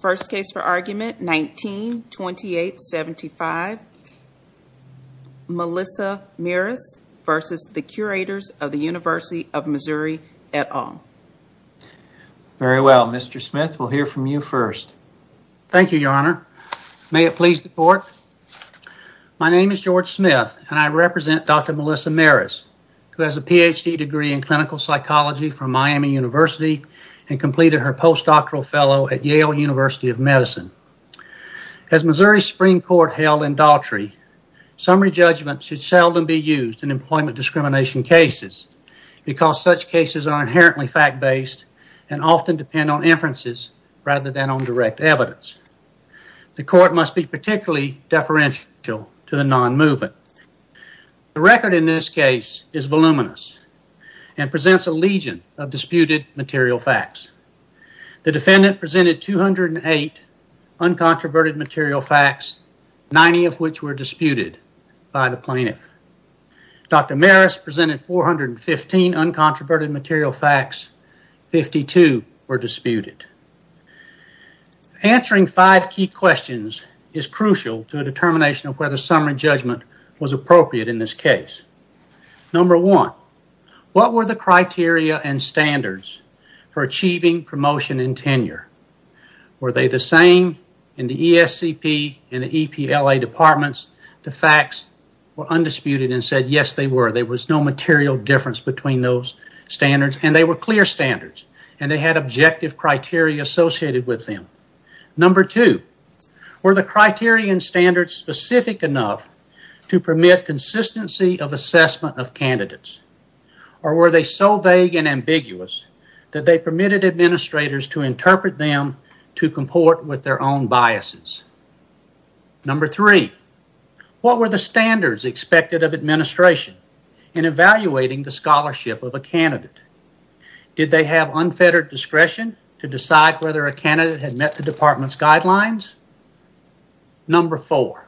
First case for argument 19-28-75 Melissa Maris versus the Curators of the University of Missouri et al. Very well, Mr. Smith. We'll hear from you first. Thank you, Your Honor. May it please the Court. My name is George Smith, and I represent Dr. Melissa Maris, who has a PhD degree in clinical psychology from Miami University and completed her postdoctoral fellow at Yale University of Medicine. As Missouri Supreme Court held in Daltrey, summary judgment should seldom be used in employment discrimination cases because such cases are inherently fact-based and often depend on inferences rather than on direct evidence. The Court must be particularly deferential to the non-movement. The record in this case is voluminous and presents a legion of disputed material facts. The defendant presented 208 uncontroverted material facts, 90 of which were disputed by the plaintiff. Dr. Maris presented 415 uncontroverted material facts, 52 were disputed. Answering five key questions is crucial to a determination of whether summary judgment was appropriate in this case. Number one, what were the criteria and standards for achieving promotion and tenure? Were they the same in the ESCP and the EPLA departments? The facts were undisputed and said, yes, they were. There was no material difference between those standards, and they were clear standards, and they had objective criteria associated with them. Number two, were the criteria and standards specific enough to permit consistency of assessment of candidates? Or were they so vague and ambiguous that they permitted administrators to interpret them to comport with their own biases? Number three, what were the standards expected of administration in this case? Did they have unfettered discretion to decide whether a candidate had met the department's guidelines? Number four,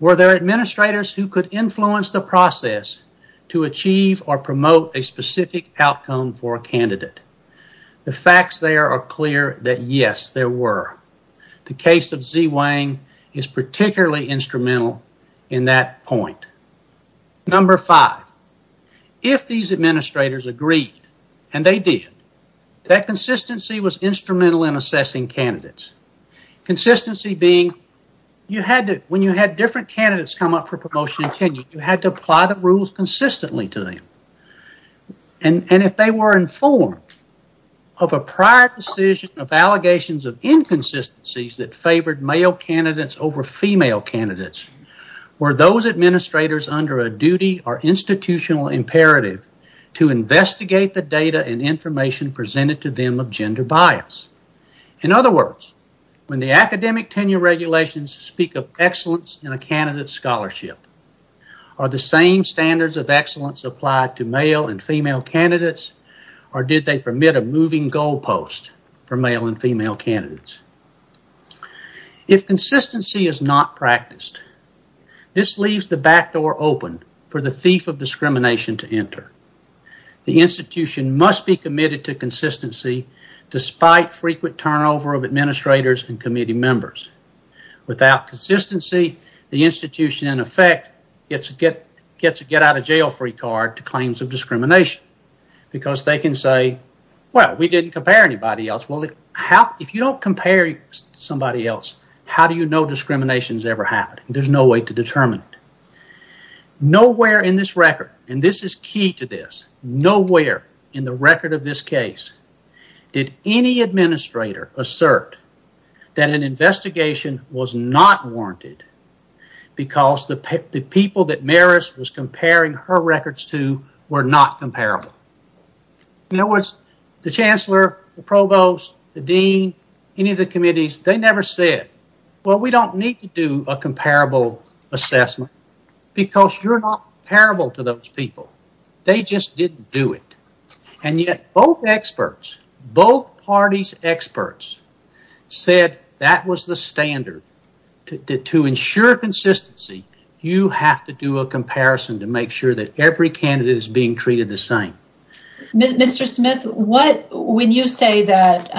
were there administrators who could influence the process to achieve or promote a specific outcome for a candidate? The facts there are clear that, yes, there were. The case of Zi Wang is particularly instrumental in that point. Number five, if these administrators agreed, and they did, that consistency was instrumental in assessing candidates. Consistency being, you had to, when you had different candidates come up for promotion and tenure, you had to apply the rules consistently to them, and if they were informed of a prior decision of allegations of inconsistencies that favored male candidates over female candidates, were those administrators under a duty or institutional imperative to investigate the data and information presented to them of gender bias? In other words, when the academic tenure regulations speak of excellence in a candidate scholarship, are the same standards of excellence applied to male and female candidates, or did they permit a moving goalpost for male and female candidates? If consistency is not practiced, this leaves the backdoor open for the thief of discrimination to enter. The institution must be committed to consistency despite frequent turnover of administrators and committee members. Without consistency, the institution, in effect, gets a get-out-of-jail-free card to claims of discrimination because they can say, well, we didn't compare anybody else. Well, if you don't compare somebody else, how do you know discrimination has ever happened? There's no way to determine it. Nowhere in this record, and this is key to this, nowhere in the record of this case did any administrator assert that an investigation was not warranted because the people that Maris was comparing her records to were not comparable. In other words, the chancellor, the provost, the dean, any of the committees, they never said, well, we don't need to do a comparable assessment because you're not comparable to those people. They just didn't do it. And yet both experts, both parties' experts said that was the standard. To ensure consistency, you have to do a comparison to make sure that every candidate is being treated the same. Mr. Smith, what, when you say that,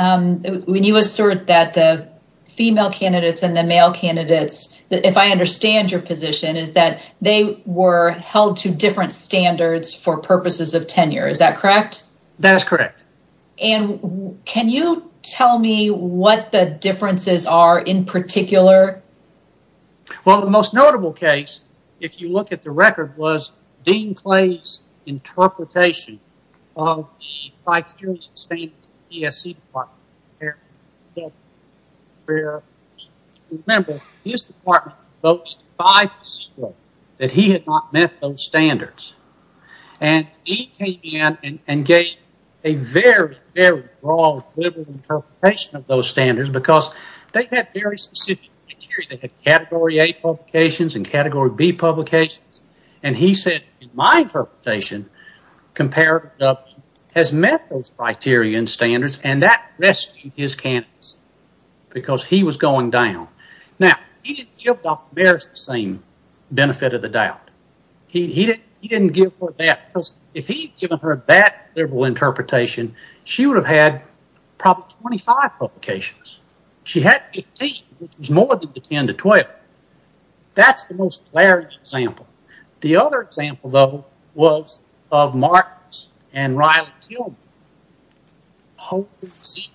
when you assert that the female candidates and the male candidates, if I understand your position, is that they were held to different standards for purposes of tenure. Is that correct? That's correct. And can you tell me what the differences are in particular? Well, the most notable case, if you look at the record, was Dean Clay's interpretation of the criteria and standards of the ESC department. Remember, his department voted five to zero, that he had not met those standards. And he came in and gave a very, very broad, liberal interpretation of those standards because they had very specific Category A publications and Category B publications. And he said, in my interpretation, comparative has met those criteria and standards and that rescued his candidates because he was going down. Now, he didn't give Dr. Mears the same benefit of the doubt. He didn't give her that because if he'd given her that liberal interpretation, she would have had probably 25 publications. She had 15, which was more than the 10 to 12. That's the most clear example. The other example, though, was of Marks and Riley Kilmer. She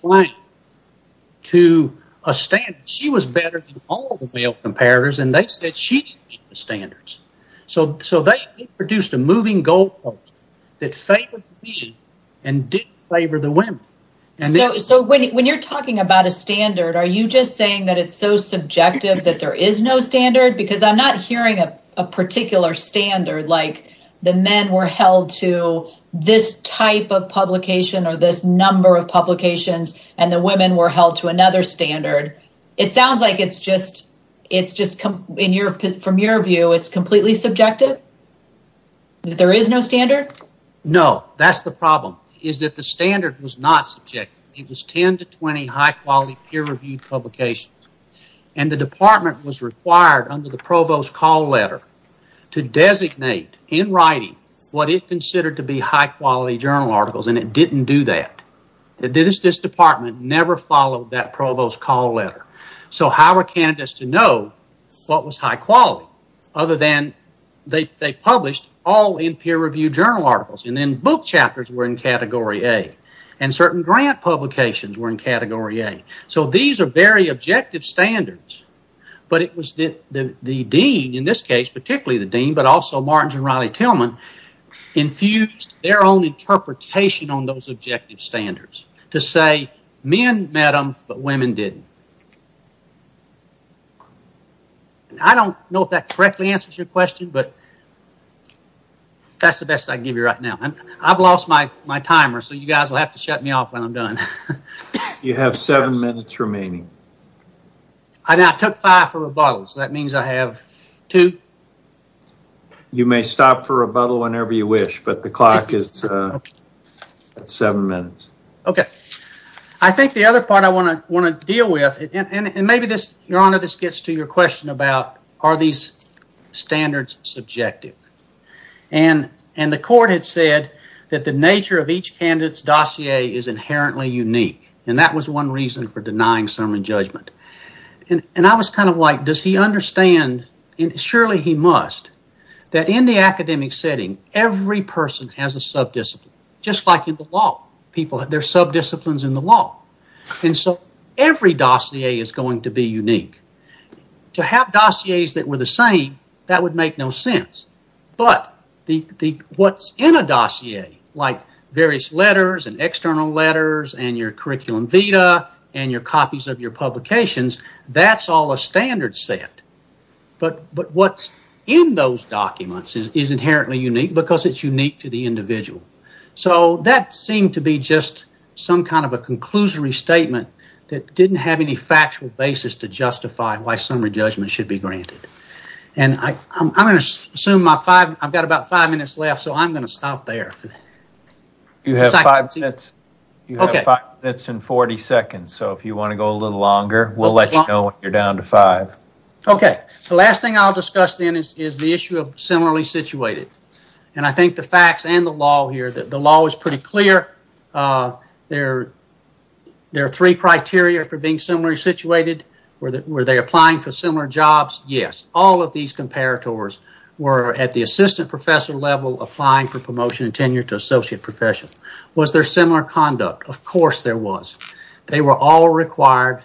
was better than all the male comparators and they said she didn't meet the standards. So they produced a moving goal post that favored the men and didn't favor the women. So when you're talking about a standard, are you just saying that it's so subjective that there is no standard? Because I'm not hearing a particular standard, like the men were held to this type of publication or this number of publications and the women were held to another standard. It sounds like it's just, from your view, it's completely subjective? That there is no standard? No, that's the problem, is that the standard was not subjective. It was 10 to 20 high-quality peer-reviewed publications and the department was required under the provost call letter to designate, in writing, what it considered to be high-quality journal articles and it didn't do that. This department never followed that provost call letter. So how were candidates to know what was high-quality other than they published all in peer-reviewed journal articles and then book chapters were in Category A and certain grant publications were in Category A. So these are very objective standards, but it was the dean, in this case, particularly the dean, but also Martins and Reilly Tillman, infused their own interpretation on those objective standards to say men met them, but women didn't. I don't know if that correctly answers your question, but that's the best I can give you right now. I've lost my timer, so you guys will have to shut me off when I'm done. You have seven minutes remaining. I took five for rebuttal, so that means I have two. You may stop for rebuttal whenever you wish, but the clock is at seven minutes. Okay. I think the other part I want to deal with, and maybe this, your honor, this gets to your question about are these standards subjective? And the court had said that the nature of each candidate's dossier is inherently unique, and that was one reason for denying sermon judgment, and I was kind of like, does he understand, and surely he must, that in the academic setting, every person has a subdisciplines in the law, and so every dossier is going to be unique. To have dossiers that were the same, that would make no sense, but what's in a dossier, like various letters and external letters and your curriculum vitae and your copies of your publications, that's all a standard set, but what's in those documents is inherently unique because it's unique to the individual. So that seemed to be just some kind of a conclusory statement that didn't have any factual basis to justify why sermon judgment should be granted, and I'm going to assume I've got about five minutes left, so I'm going to stop there. You have five minutes and 40 seconds, so if you want to go a little longer, we'll let you know when you're down to five. Okay, the last thing I'll discuss then is the issue of similarly situated, and I think the facts and the law here, the law is pretty clear. There are three criteria for being similarly situated. Were they applying for similar jobs? Yes. All of these comparators were at the assistant professor level applying for promotion and tenure to associate professionals. Was there similar conduct? Of course there was. They were all required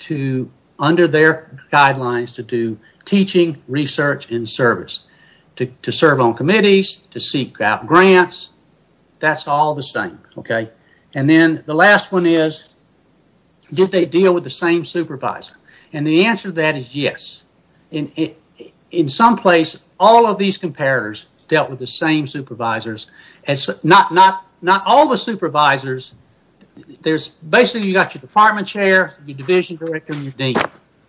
to, under their guidelines, to do teaching, research, and service, to serve on committees, to seek out grants. That's all the same, okay? And then the last one is, did they deal with the same supervisor? And the answer to that is yes. In some place, all of these comparators dealt with the same supervisors. And not all the supervisors, there's basically, you got your department chair, your division director, and your dean.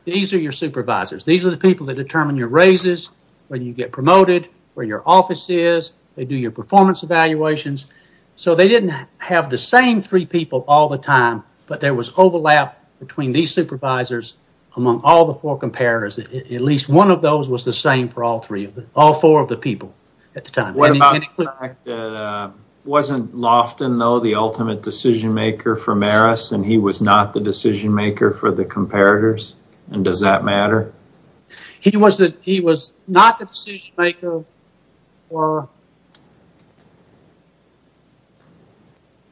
These are your supervisors. These are the people that determine your raises, where you get promoted, where your office is, they do your performance evaluations. So they didn't have the same three people all the time, but there was overlap between these supervisors among all the four comparators. At least one of those was the same for all three of them, all four of the people at the time. What about the fact that, wasn't Loftin, though, the ultimate decision maker for Marist, and he was not the decision maker for the comparators? And does that matter? He was not the decision maker for,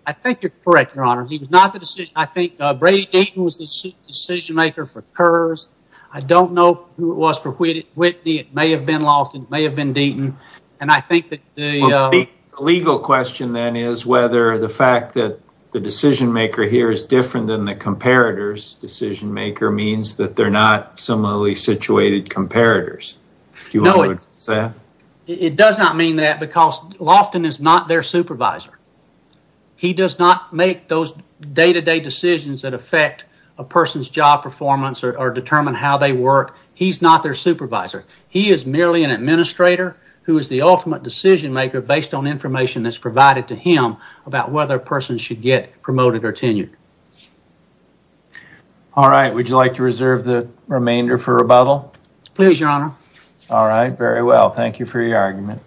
I think you're correct, your honor. He was not the decision, I think Brady Deaton was the decision maker for Kurz. I don't know who it was for Whitney. It may have been Loftin, it may have been Deaton. And I think that the legal question then is whether the fact that the decision maker here is different than the comparators decision maker means that they're not similarly situated comparators. Do you agree with that? It does not mean that because Loftin is not their supervisor. He does not make those day to day decisions that affect a person's job performance or determine how they work. He's not their supervisor. He is merely an administrator who is the ultimate decision maker based on information that's provided to him about whether a person should get promoted or tenured. All right, would you like to reserve the remainder for rebuttal? Please, your honor. All right, very well. Thank you for your argument.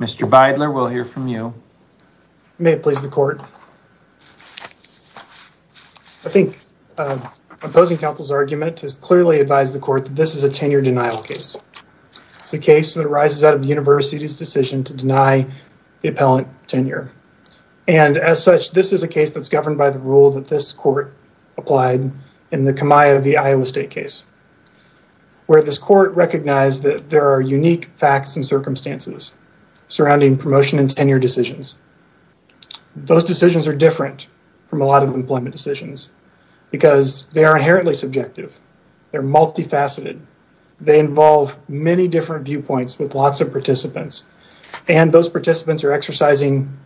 Mr. Beidler, we'll hear from you. May it please the court. I think opposing counsel's argument is clearly advise the court that this is a tenure denial case. It's a case that arises out of the university's decision to deny the appellant tenure. And as such, this is a case that's governed by the rule that this court applied in the Kamiah v. Iowa State case, where this court recognized that there are unique facts and circumstances surrounding promotion and tenure decisions. Those decisions are different from a lot of employment decisions because they are inherently subjective. They're multifaceted. They involve many different viewpoints with lots of participants, and those participants are exercising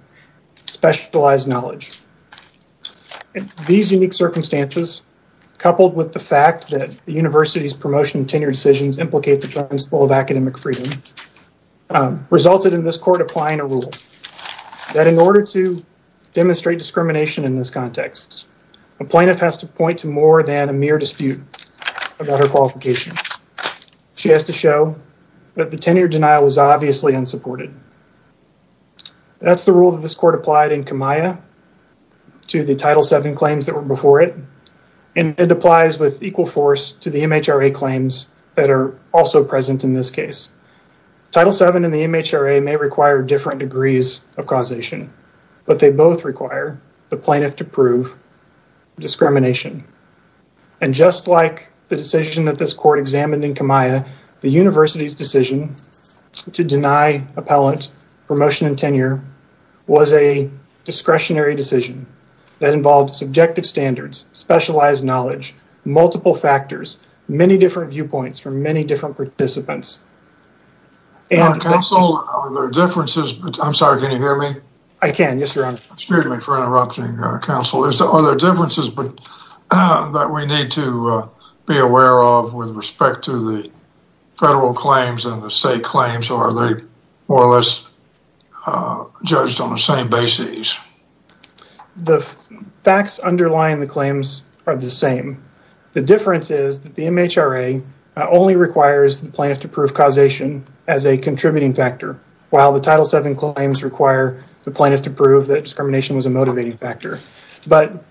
specialized knowledge. These unique circumstances, coupled with the fact that the university's promotion and tenure decisions implicate the principle of academic freedom, resulted in this court applying a rule that in order to demonstrate discrimination in this context, a plaintiff has to point to more than a mere dispute about her qualification. She has to show that the tenure denial was obviously unsupported. That's the rule that this court applied in Kamiah to the Title VII claims that were before it, and it applies with equal force to the MHRA claims that are also present in this case. Title VII and the MHRA may require different degrees of causation, but they both require the plaintiff to prove discrimination. And just like the decision that this court examined in Kamiah, the university's decision to deny appellant promotion and tenure was a discretionary decision that involved subjective standards, specialized knowledge, multiple factors, many different viewpoints from many different participants. Counsel, are there differences that we need to be aware of with respect to the federal claims and the state claims, or are they more or less judged on the same basis? The facts underlying the claims are the same. The difference is that the MHRA only requires the plaintiff to prove causation as a contributing factor, while the Title VII claims require the plaintiff to prove that discrimination was a motivating factor. But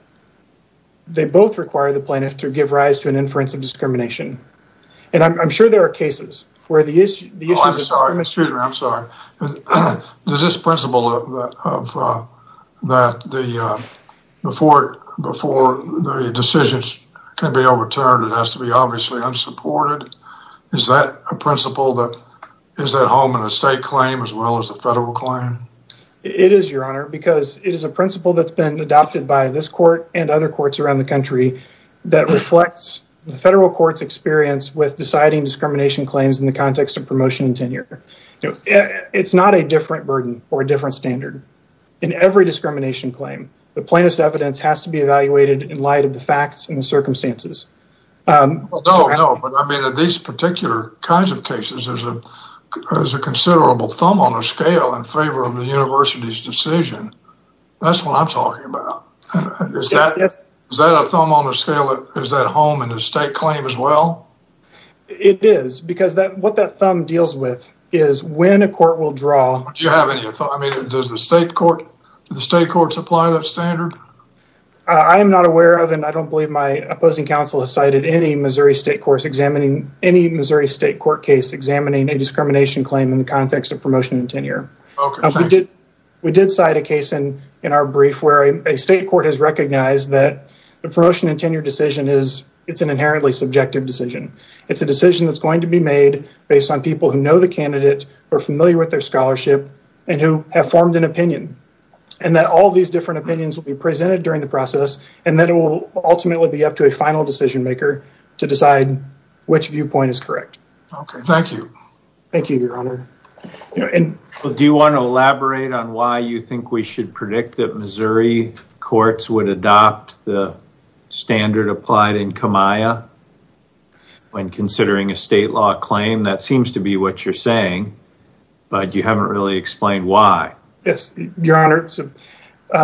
they both require the plaintiff to give rise to an inference of discrimination. And I'm sure there are cases where the issue of discrimination… Oh, I'm sorry, Mr. Hoosier, I'm sorry. Does this principle that before the decisions can be overturned, it has to be obviously unsupported, is that a principle that is at home in a state claim as well as a federal claim? It is, Your Honor, because it is a principle that's been adopted by this court and other courts around the country that reflects the federal court's experience with deciding discrimination claims in the context of promotion and tenure. It's not a different burden or a different standard. In every discrimination claim, the plaintiff's evidence has to be evaluated in light of the facts and the circumstances. No, no, but I mean, in these particular kinds of cases, there's a considerable thumb on a scale in favor of the university's decision. That's what I'm talking about. Is that a thumb on a scale that is at home in a state claim as well? It is, because what that thumb deals with is when a court will draw… Do you have any… I mean, does the state courts apply that standard? I am not aware of, and I don't believe my opposing counsel has cited any Missouri state court case examining a discrimination claim in the context of promotion and tenure. We did cite a case in our brief where a state court has recognized that the promotion and tenure decision is an inherently subjective decision. It's a decision that's going to be made based on people who know the candidate, who are familiar with their scholarship, and who have formed an opinion. And that all these different opinions will be presented during the process, and then it will ultimately be up to a final decision maker to decide which viewpoint is correct. Okay, thank you. Thank you, Your Honor. Do you want to elaborate on why you think we should predict that Missouri courts would adopt the standard applied in Kamiah when considering a state law claim? That seems to be what you're saying, but you haven't really explained why. Yes, Your Honor.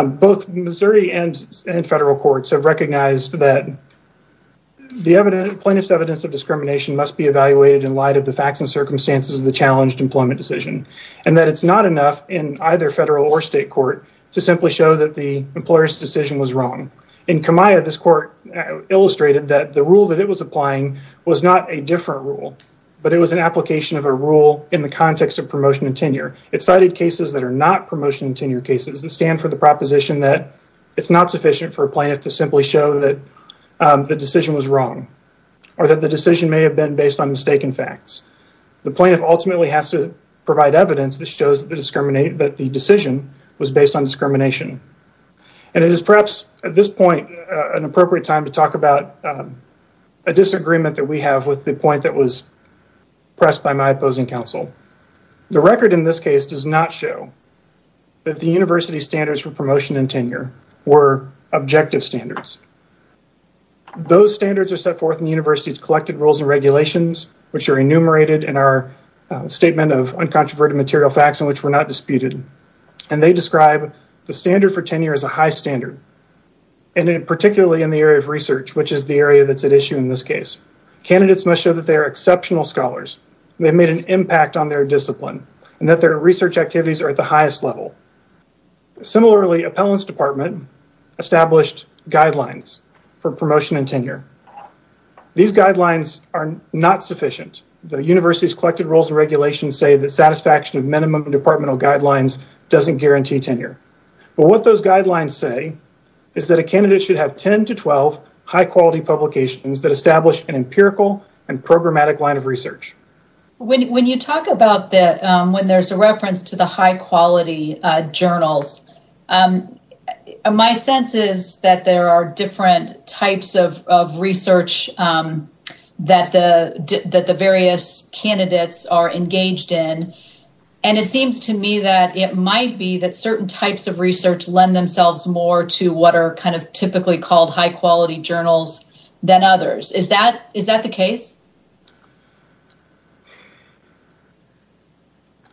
Both Missouri and federal courts have recognized that the plaintiff's evidence of discrimination must be evaluated in light of the facts and circumstances of the challenged employment decision. And that it's not enough in either federal or state court to simply show that the employer's decision was wrong. In Kamiah, this court illustrated that the rule that it was applying was not a different rule, but it was an application of a rule in the context of promotion and tenure. It cited cases that are not promotion and tenure cases that stand for the proposition that it's not sufficient for a plaintiff to simply show that the decision was wrong. Or that the decision may have been based on mistaken facts. The plaintiff ultimately has to provide evidence that shows that the decision was based on discrimination. And it is perhaps, at this point, an appropriate time to talk about a disagreement that we have with the point that was pressed by my opposing counsel. The record in this case does not show that the university standards for promotion and tenure were objective standards. Those standards are set forth in the university's collected rules and regulations, which are enumerated in our statement of uncontroverted material facts in which we're not disputed. And they describe the standard for tenure as a high standard. And particularly in the area of research, which is the area that's at issue in this case. Candidates must show that they are exceptional scholars. They made an impact on their discipline and that their research activities are at the highest level. Similarly, appellants department established guidelines for promotion and tenure. These guidelines are not sufficient. The university's collected rules and regulations say the satisfaction of minimum departmental guidelines doesn't guarantee tenure. But what those guidelines say is that a candidate should have 10 to 12 high quality publications that establish an empirical and programmatic line of research. When you talk about that, when there's a reference to the high quality journals, my sense is that there are different types of research that the various candidates are engaged in. And it seems to me that it might be that certain types of research lend themselves more to what are kind of typically called high quality journals than others. Is that the case?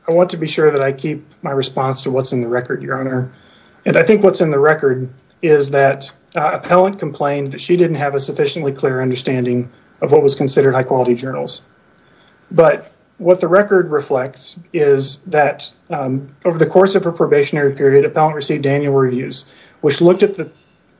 I want to be sure that I keep my response to what's in the record, your honor. And I think what's in the record is that appellant complained that she didn't have a sufficiently clear understanding of what was considered high quality journals. But what the record reflects is that over the course of her probationary period, appellant received annual reviews, which looked at the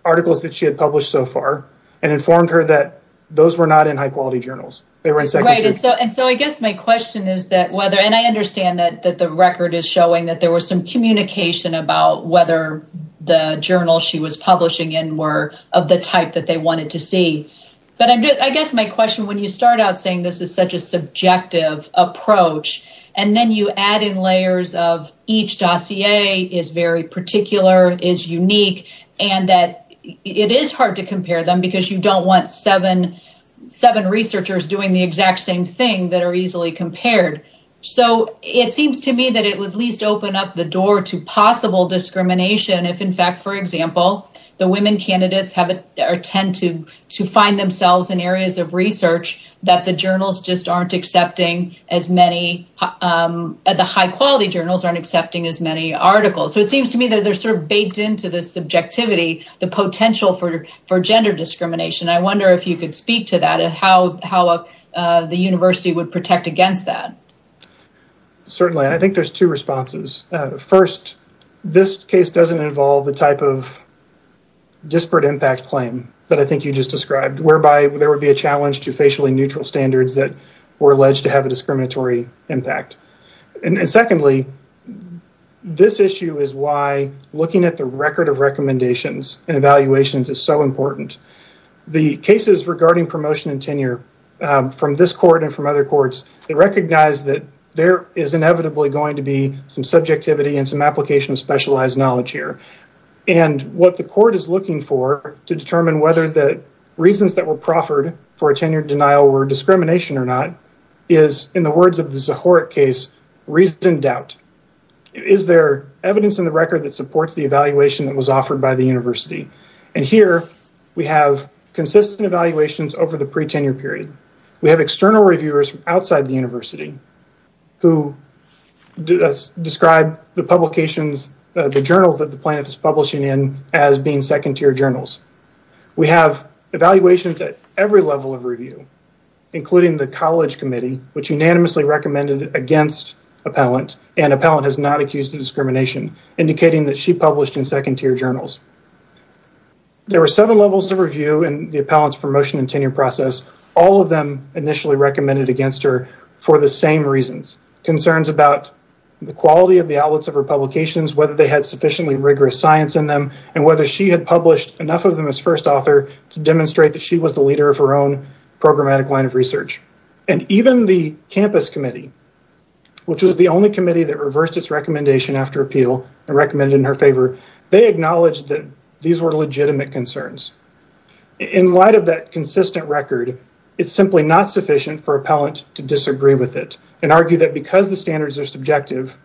articles that she had published so far and informed her that those were not in high quality journals. Right. And so I guess my question is that whether and I understand that the record is showing that there was some communication about whether the journal she was publishing in were of the type that they wanted to see. But I guess my question, when you start out saying this is such a subjective approach and then you add in layers of each dossier is very particular, is unique, and that it is hard to compare them because you don't want seven researchers doing the exact same thing that are easily compared. So it seems to me that it would at least open up the door to possible discrimination if, in fact, for example, the women candidates have or tend to to find themselves in areas of research that the journals just aren't accepting as many The high quality journals aren't accepting as many articles. So it seems to me that they're sort of baked into the subjectivity, the potential for gender discrimination. I wonder if you could speak to that and how the university would protect against that. Certainly, I think there's two responses. First, this case doesn't involve the type of impact. And secondly, this issue is why looking at the record of recommendations and evaluations is so important. The cases regarding promotion and tenure from this court and from other courts, they recognize that there is inevitably going to be some subjectivity and some application specialized knowledge here. And what the court is looking for to determine whether the reasons that were proffered for a tenure denial were discrimination or not, is, in the words of the Zohoric case, reasoned doubt. Is there evidence in the record that supports the evaluation that was offered by the university? And here we have consistent evaluations over the pre-tenure period. We have external reviewers outside the university who describe the publications, the journals that the plaintiff is publishing in as being second tier journals. We have evaluations at every level of review, including the College Committee, which unanimously recommended against Appellant and Appellant has not accused of discrimination, indicating that she published in second tier journals. There were seven levels of review in the Appellant's promotion and tenure process. All of them initially recommended against her for the same reasons. Concerns about the quality of the outlets of her publications, whether they had sufficiently rigorous science in them, and whether she had published enough of them as first author to demonstrate that she was the leader of her own programmatic line of research. And even the campus committee, which was the only committee that reversed its recommendation after appeal and recommended in her favor, they acknowledged that these were legitimate concerns. In light of that consistent record, it's simply not sufficient for Appellant to disagree with it and argue that because the standards are subjective,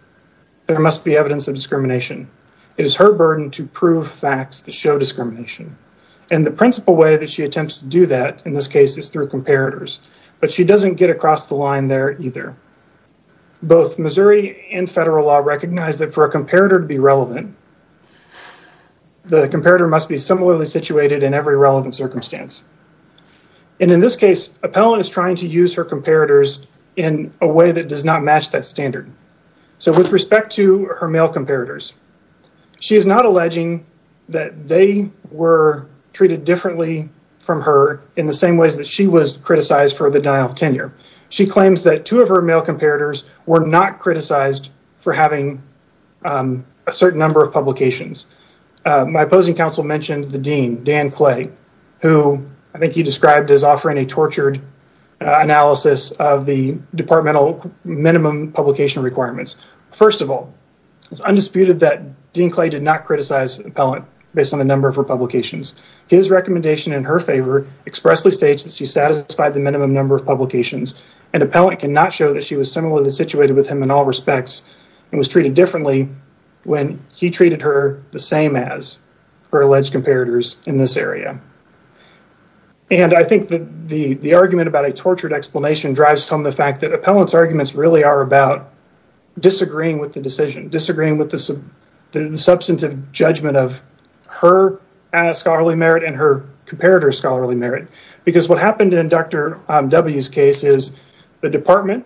there must be evidence of discrimination. It is her burden to prove facts that show discrimination. And the principal way that she attempts to do that in this case is through comparators, but she doesn't get across the line there either. Both Missouri and federal law recognize that for a comparator to be relevant, the comparator must be similarly situated in every relevant circumstance. And in this case, Appellant is trying to use her comparators in a way that does not match that standard. So with respect to her male comparators, she is not alleging that they were treated differently from her in the same ways that she was criticized for the denial of tenure. She claims that two of her male comparators were not criticized for having a certain number of publications. My opposing counsel mentioned the dean, Dan Clay, who I think he described as offering a tortured analysis of the departmental minimum publication requirements. First of all, it's undisputed that Dean Clay did not criticize Appellant based on the number of her publications. His recommendation in her favor expressly states that she satisfied the minimum number of publications, and Appellant cannot show that she was similarly situated with him in all respects and was treated differently when he treated her the same as her alleged comparators in this area. And I think that the argument about a tortured explanation drives home the fact that Appellant's arguments really are about disagreeing with the decision, disagreeing with the substantive judgment of her scholarly merit and her comparator's scholarly merit because what happened in Dr. W's case is the department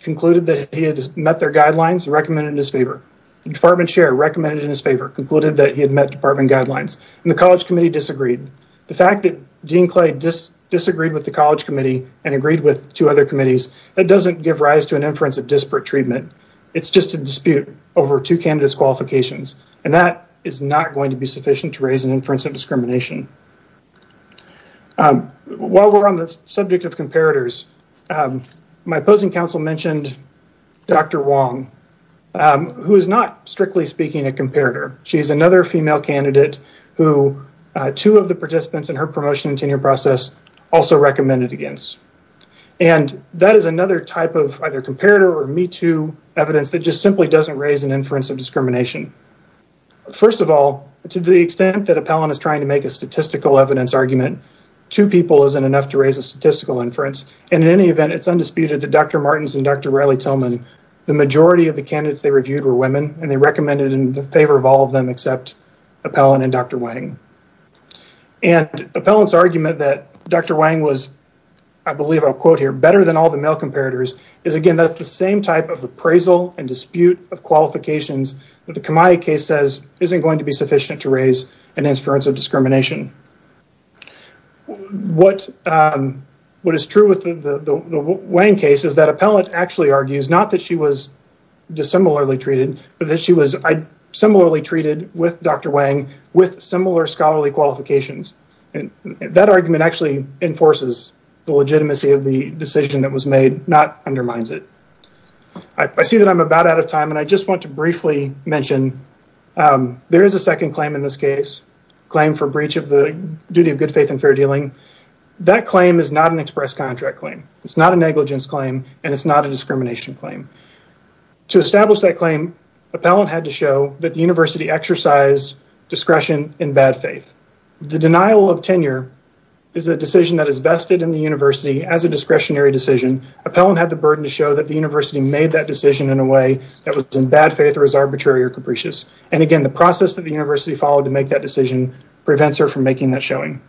concluded that he had met their guidelines, recommended in his favor. The department chair recommended in his favor, concluded that he had met department guidelines, and the college committee disagreed. The fact that Dean Clay just disagreed with the college committee and agreed with two other committees that doesn't give rise to an inference of disparate treatment. It's just a dispute over two candidates' qualifications, and that is not going to be sufficient to raise an inference of discrimination. While we're on the subject of comparators, my opposing counsel mentioned Dr. Wong, who is not, strictly speaking, a comparator. She's another female candidate who two of the participants in her promotion and tenure process also recommended against. And that is another type of either comparator or me-too evidence that just simply doesn't raise an inference of discrimination. First of all, to the extent that Appellant is trying to make a statistical evidence argument, two people isn't enough to raise a statistical inference, and in any event, it's undisputed that Dr. Martens and Dr. Raleigh Tillman, the majority of the candidates they reviewed were women, and they recommended in favor of all of them except Appellant and Dr. Wang. And Appellant's argument that Dr. Wang was I believe I'll quote here, better than all the male comparators, is again, that's the same type of appraisal and dispute of qualifications that the Kamai case says isn't going to be sufficient to raise an inference of discrimination. What is true with the Wang case is that Appellant actually argues not that she was dissimilarly treated, but that she was similarly treated with Dr. Wang with similar scholarly qualifications, and that argument actually enforces the legitimacy of the decision that was made, not undermines it. I see that I'm about out of time, and I just want to briefly mention there is a second claim in this case, claim for breach of the duty of good faith and fair dealing. That claim is not an express contract claim. It's not a negligence claim, and it's not a discrimination claim. To establish that claim, Appellant had to show that the university exercised discretion in bad faith. The denial of tenure is a decision that is vested in the university as a discretionary decision. Appellant had the burden to show that the university made that decision in a way that was in bad faith or is arbitrary or capricious. And again, the process that the university followed to make that decision prevents her from making that showing.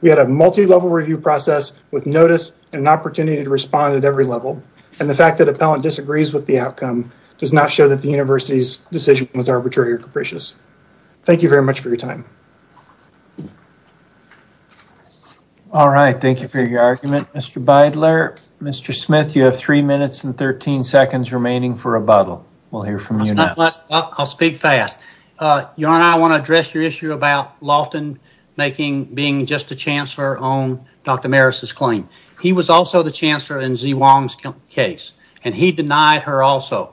We had a multi-level review process with notice and an opportunity to respond at every level, and the fact that Appellant disagrees with the outcome does not show that the university's decision was arbitrary or capricious. Thank you very much for your time. All right, thank you for your argument, Mr. Beidler. Mr. Smith, you have three minutes and 13 seconds remaining for rebuttal. We'll hear from you next. I'll speak fast. I want to address your issue about Laughton being just a chancellor on Dr. Maris's claim. He was also the chancellor in Zee Wong's case, and he denied her also.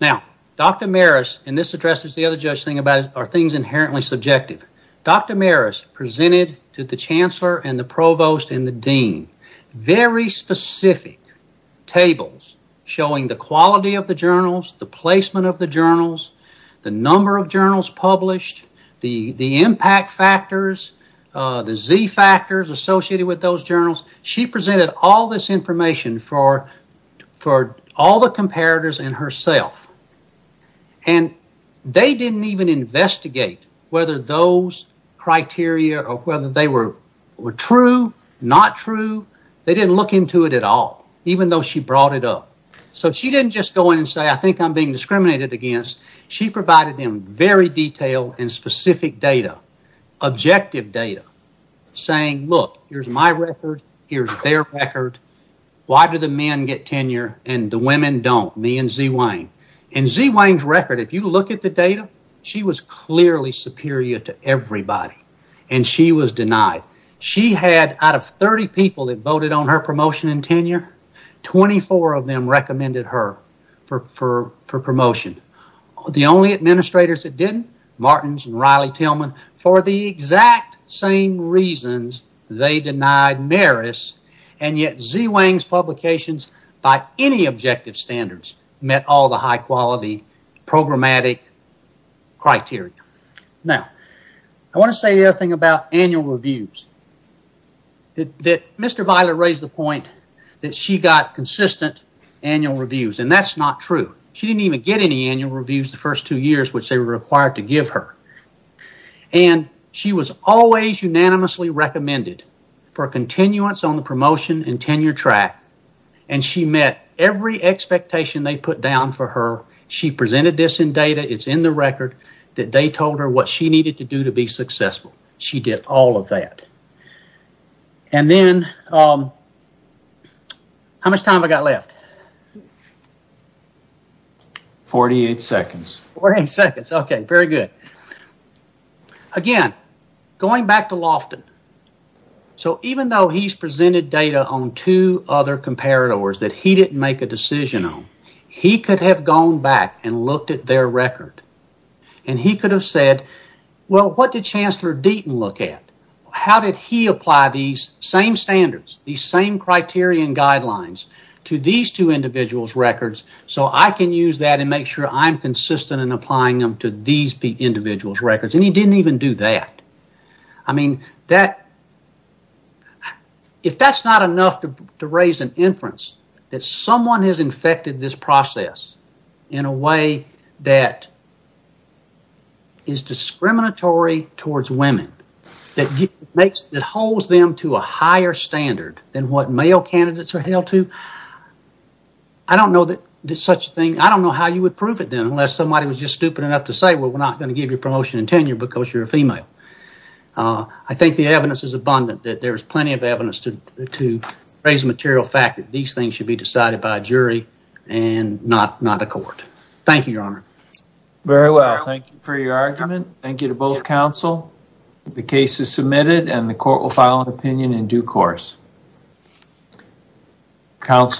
Now, Dr. Maris, and this addresses the other judge's thing about are things inherently subjective. Dr. Maris presented to the chancellor and the provost and the dean very specific tables showing the quality of the journals, the placement of the journals, the number of journals published, the impact factors, the Z factors associated with those journals. She presented all this information for all the comparators and herself, and they didn't even investigate whether those criteria or whether they were true, not true. They didn't look into it at all, even though she brought it up. So she didn't just go in and say, I think I'm being discriminated against. She provided them very detailed and specific data, objective data, saying, look, here's my record. Here's their record. Why do the men get tenure and the women don't? Me and Zee Wong. And Zee Wong's record, if you look at the data, she was clearly superior to everybody, and she was denied. She had, out of 30 people that voted on her promotion and tenure, 24 of them recommended her for promotion. The only administrators that didn't, Martins and Riley Tillman, for the exact same reasons, they denied Maris, and yet Zee Wong's publications, by any objective standards, met all the high quality programmatic criteria. Now, I want to say the other thing about annual reviews. Mr. Violet raised the point that she got consistent annual reviews, and that's not true. She didn't even get any annual reviews the first two years, which they were required to give her. And she was always unanimously recommended for a continuance on the promotion and tenure track, and she met every expectation they put down for her. She presented this in data, it's in the record, that they told her what she needed to do to be successful. She did all of that. And then, how much time I got left? 48 seconds. Okay, very good. Again, going back to Loftin. So, even though he's presented data on two other comparators that he didn't make a decision on, he could have gone back and looked at their record, and he could have said, well, what did Chancellor Deaton look at? How did he apply these same standards, these same criterion guidelines to these two individuals' records, so I can use that and make sure I'm consistent in applying them to these individuals' records, and he didn't even do that. I mean, that, if that's not enough to raise an inference that someone has infected this process in a way that is discriminatory towards women, that makes, that holds them to a higher standard than what male candidates are held to, I don't know that such a thing, I don't know how you would prove it then, unless somebody was just stupid enough to say, well, we're not going to give you promotion and tenure because you're a female. I think the evidence is abundant, that there's plenty of evidence to raise a material fact that these things should be decided by a jury and not a court. Thank you, Your Honor. Very well. Thank you for your argument. Thank you to both counsel. The case is submitted, and the court will file an opinion in due course. Counsel.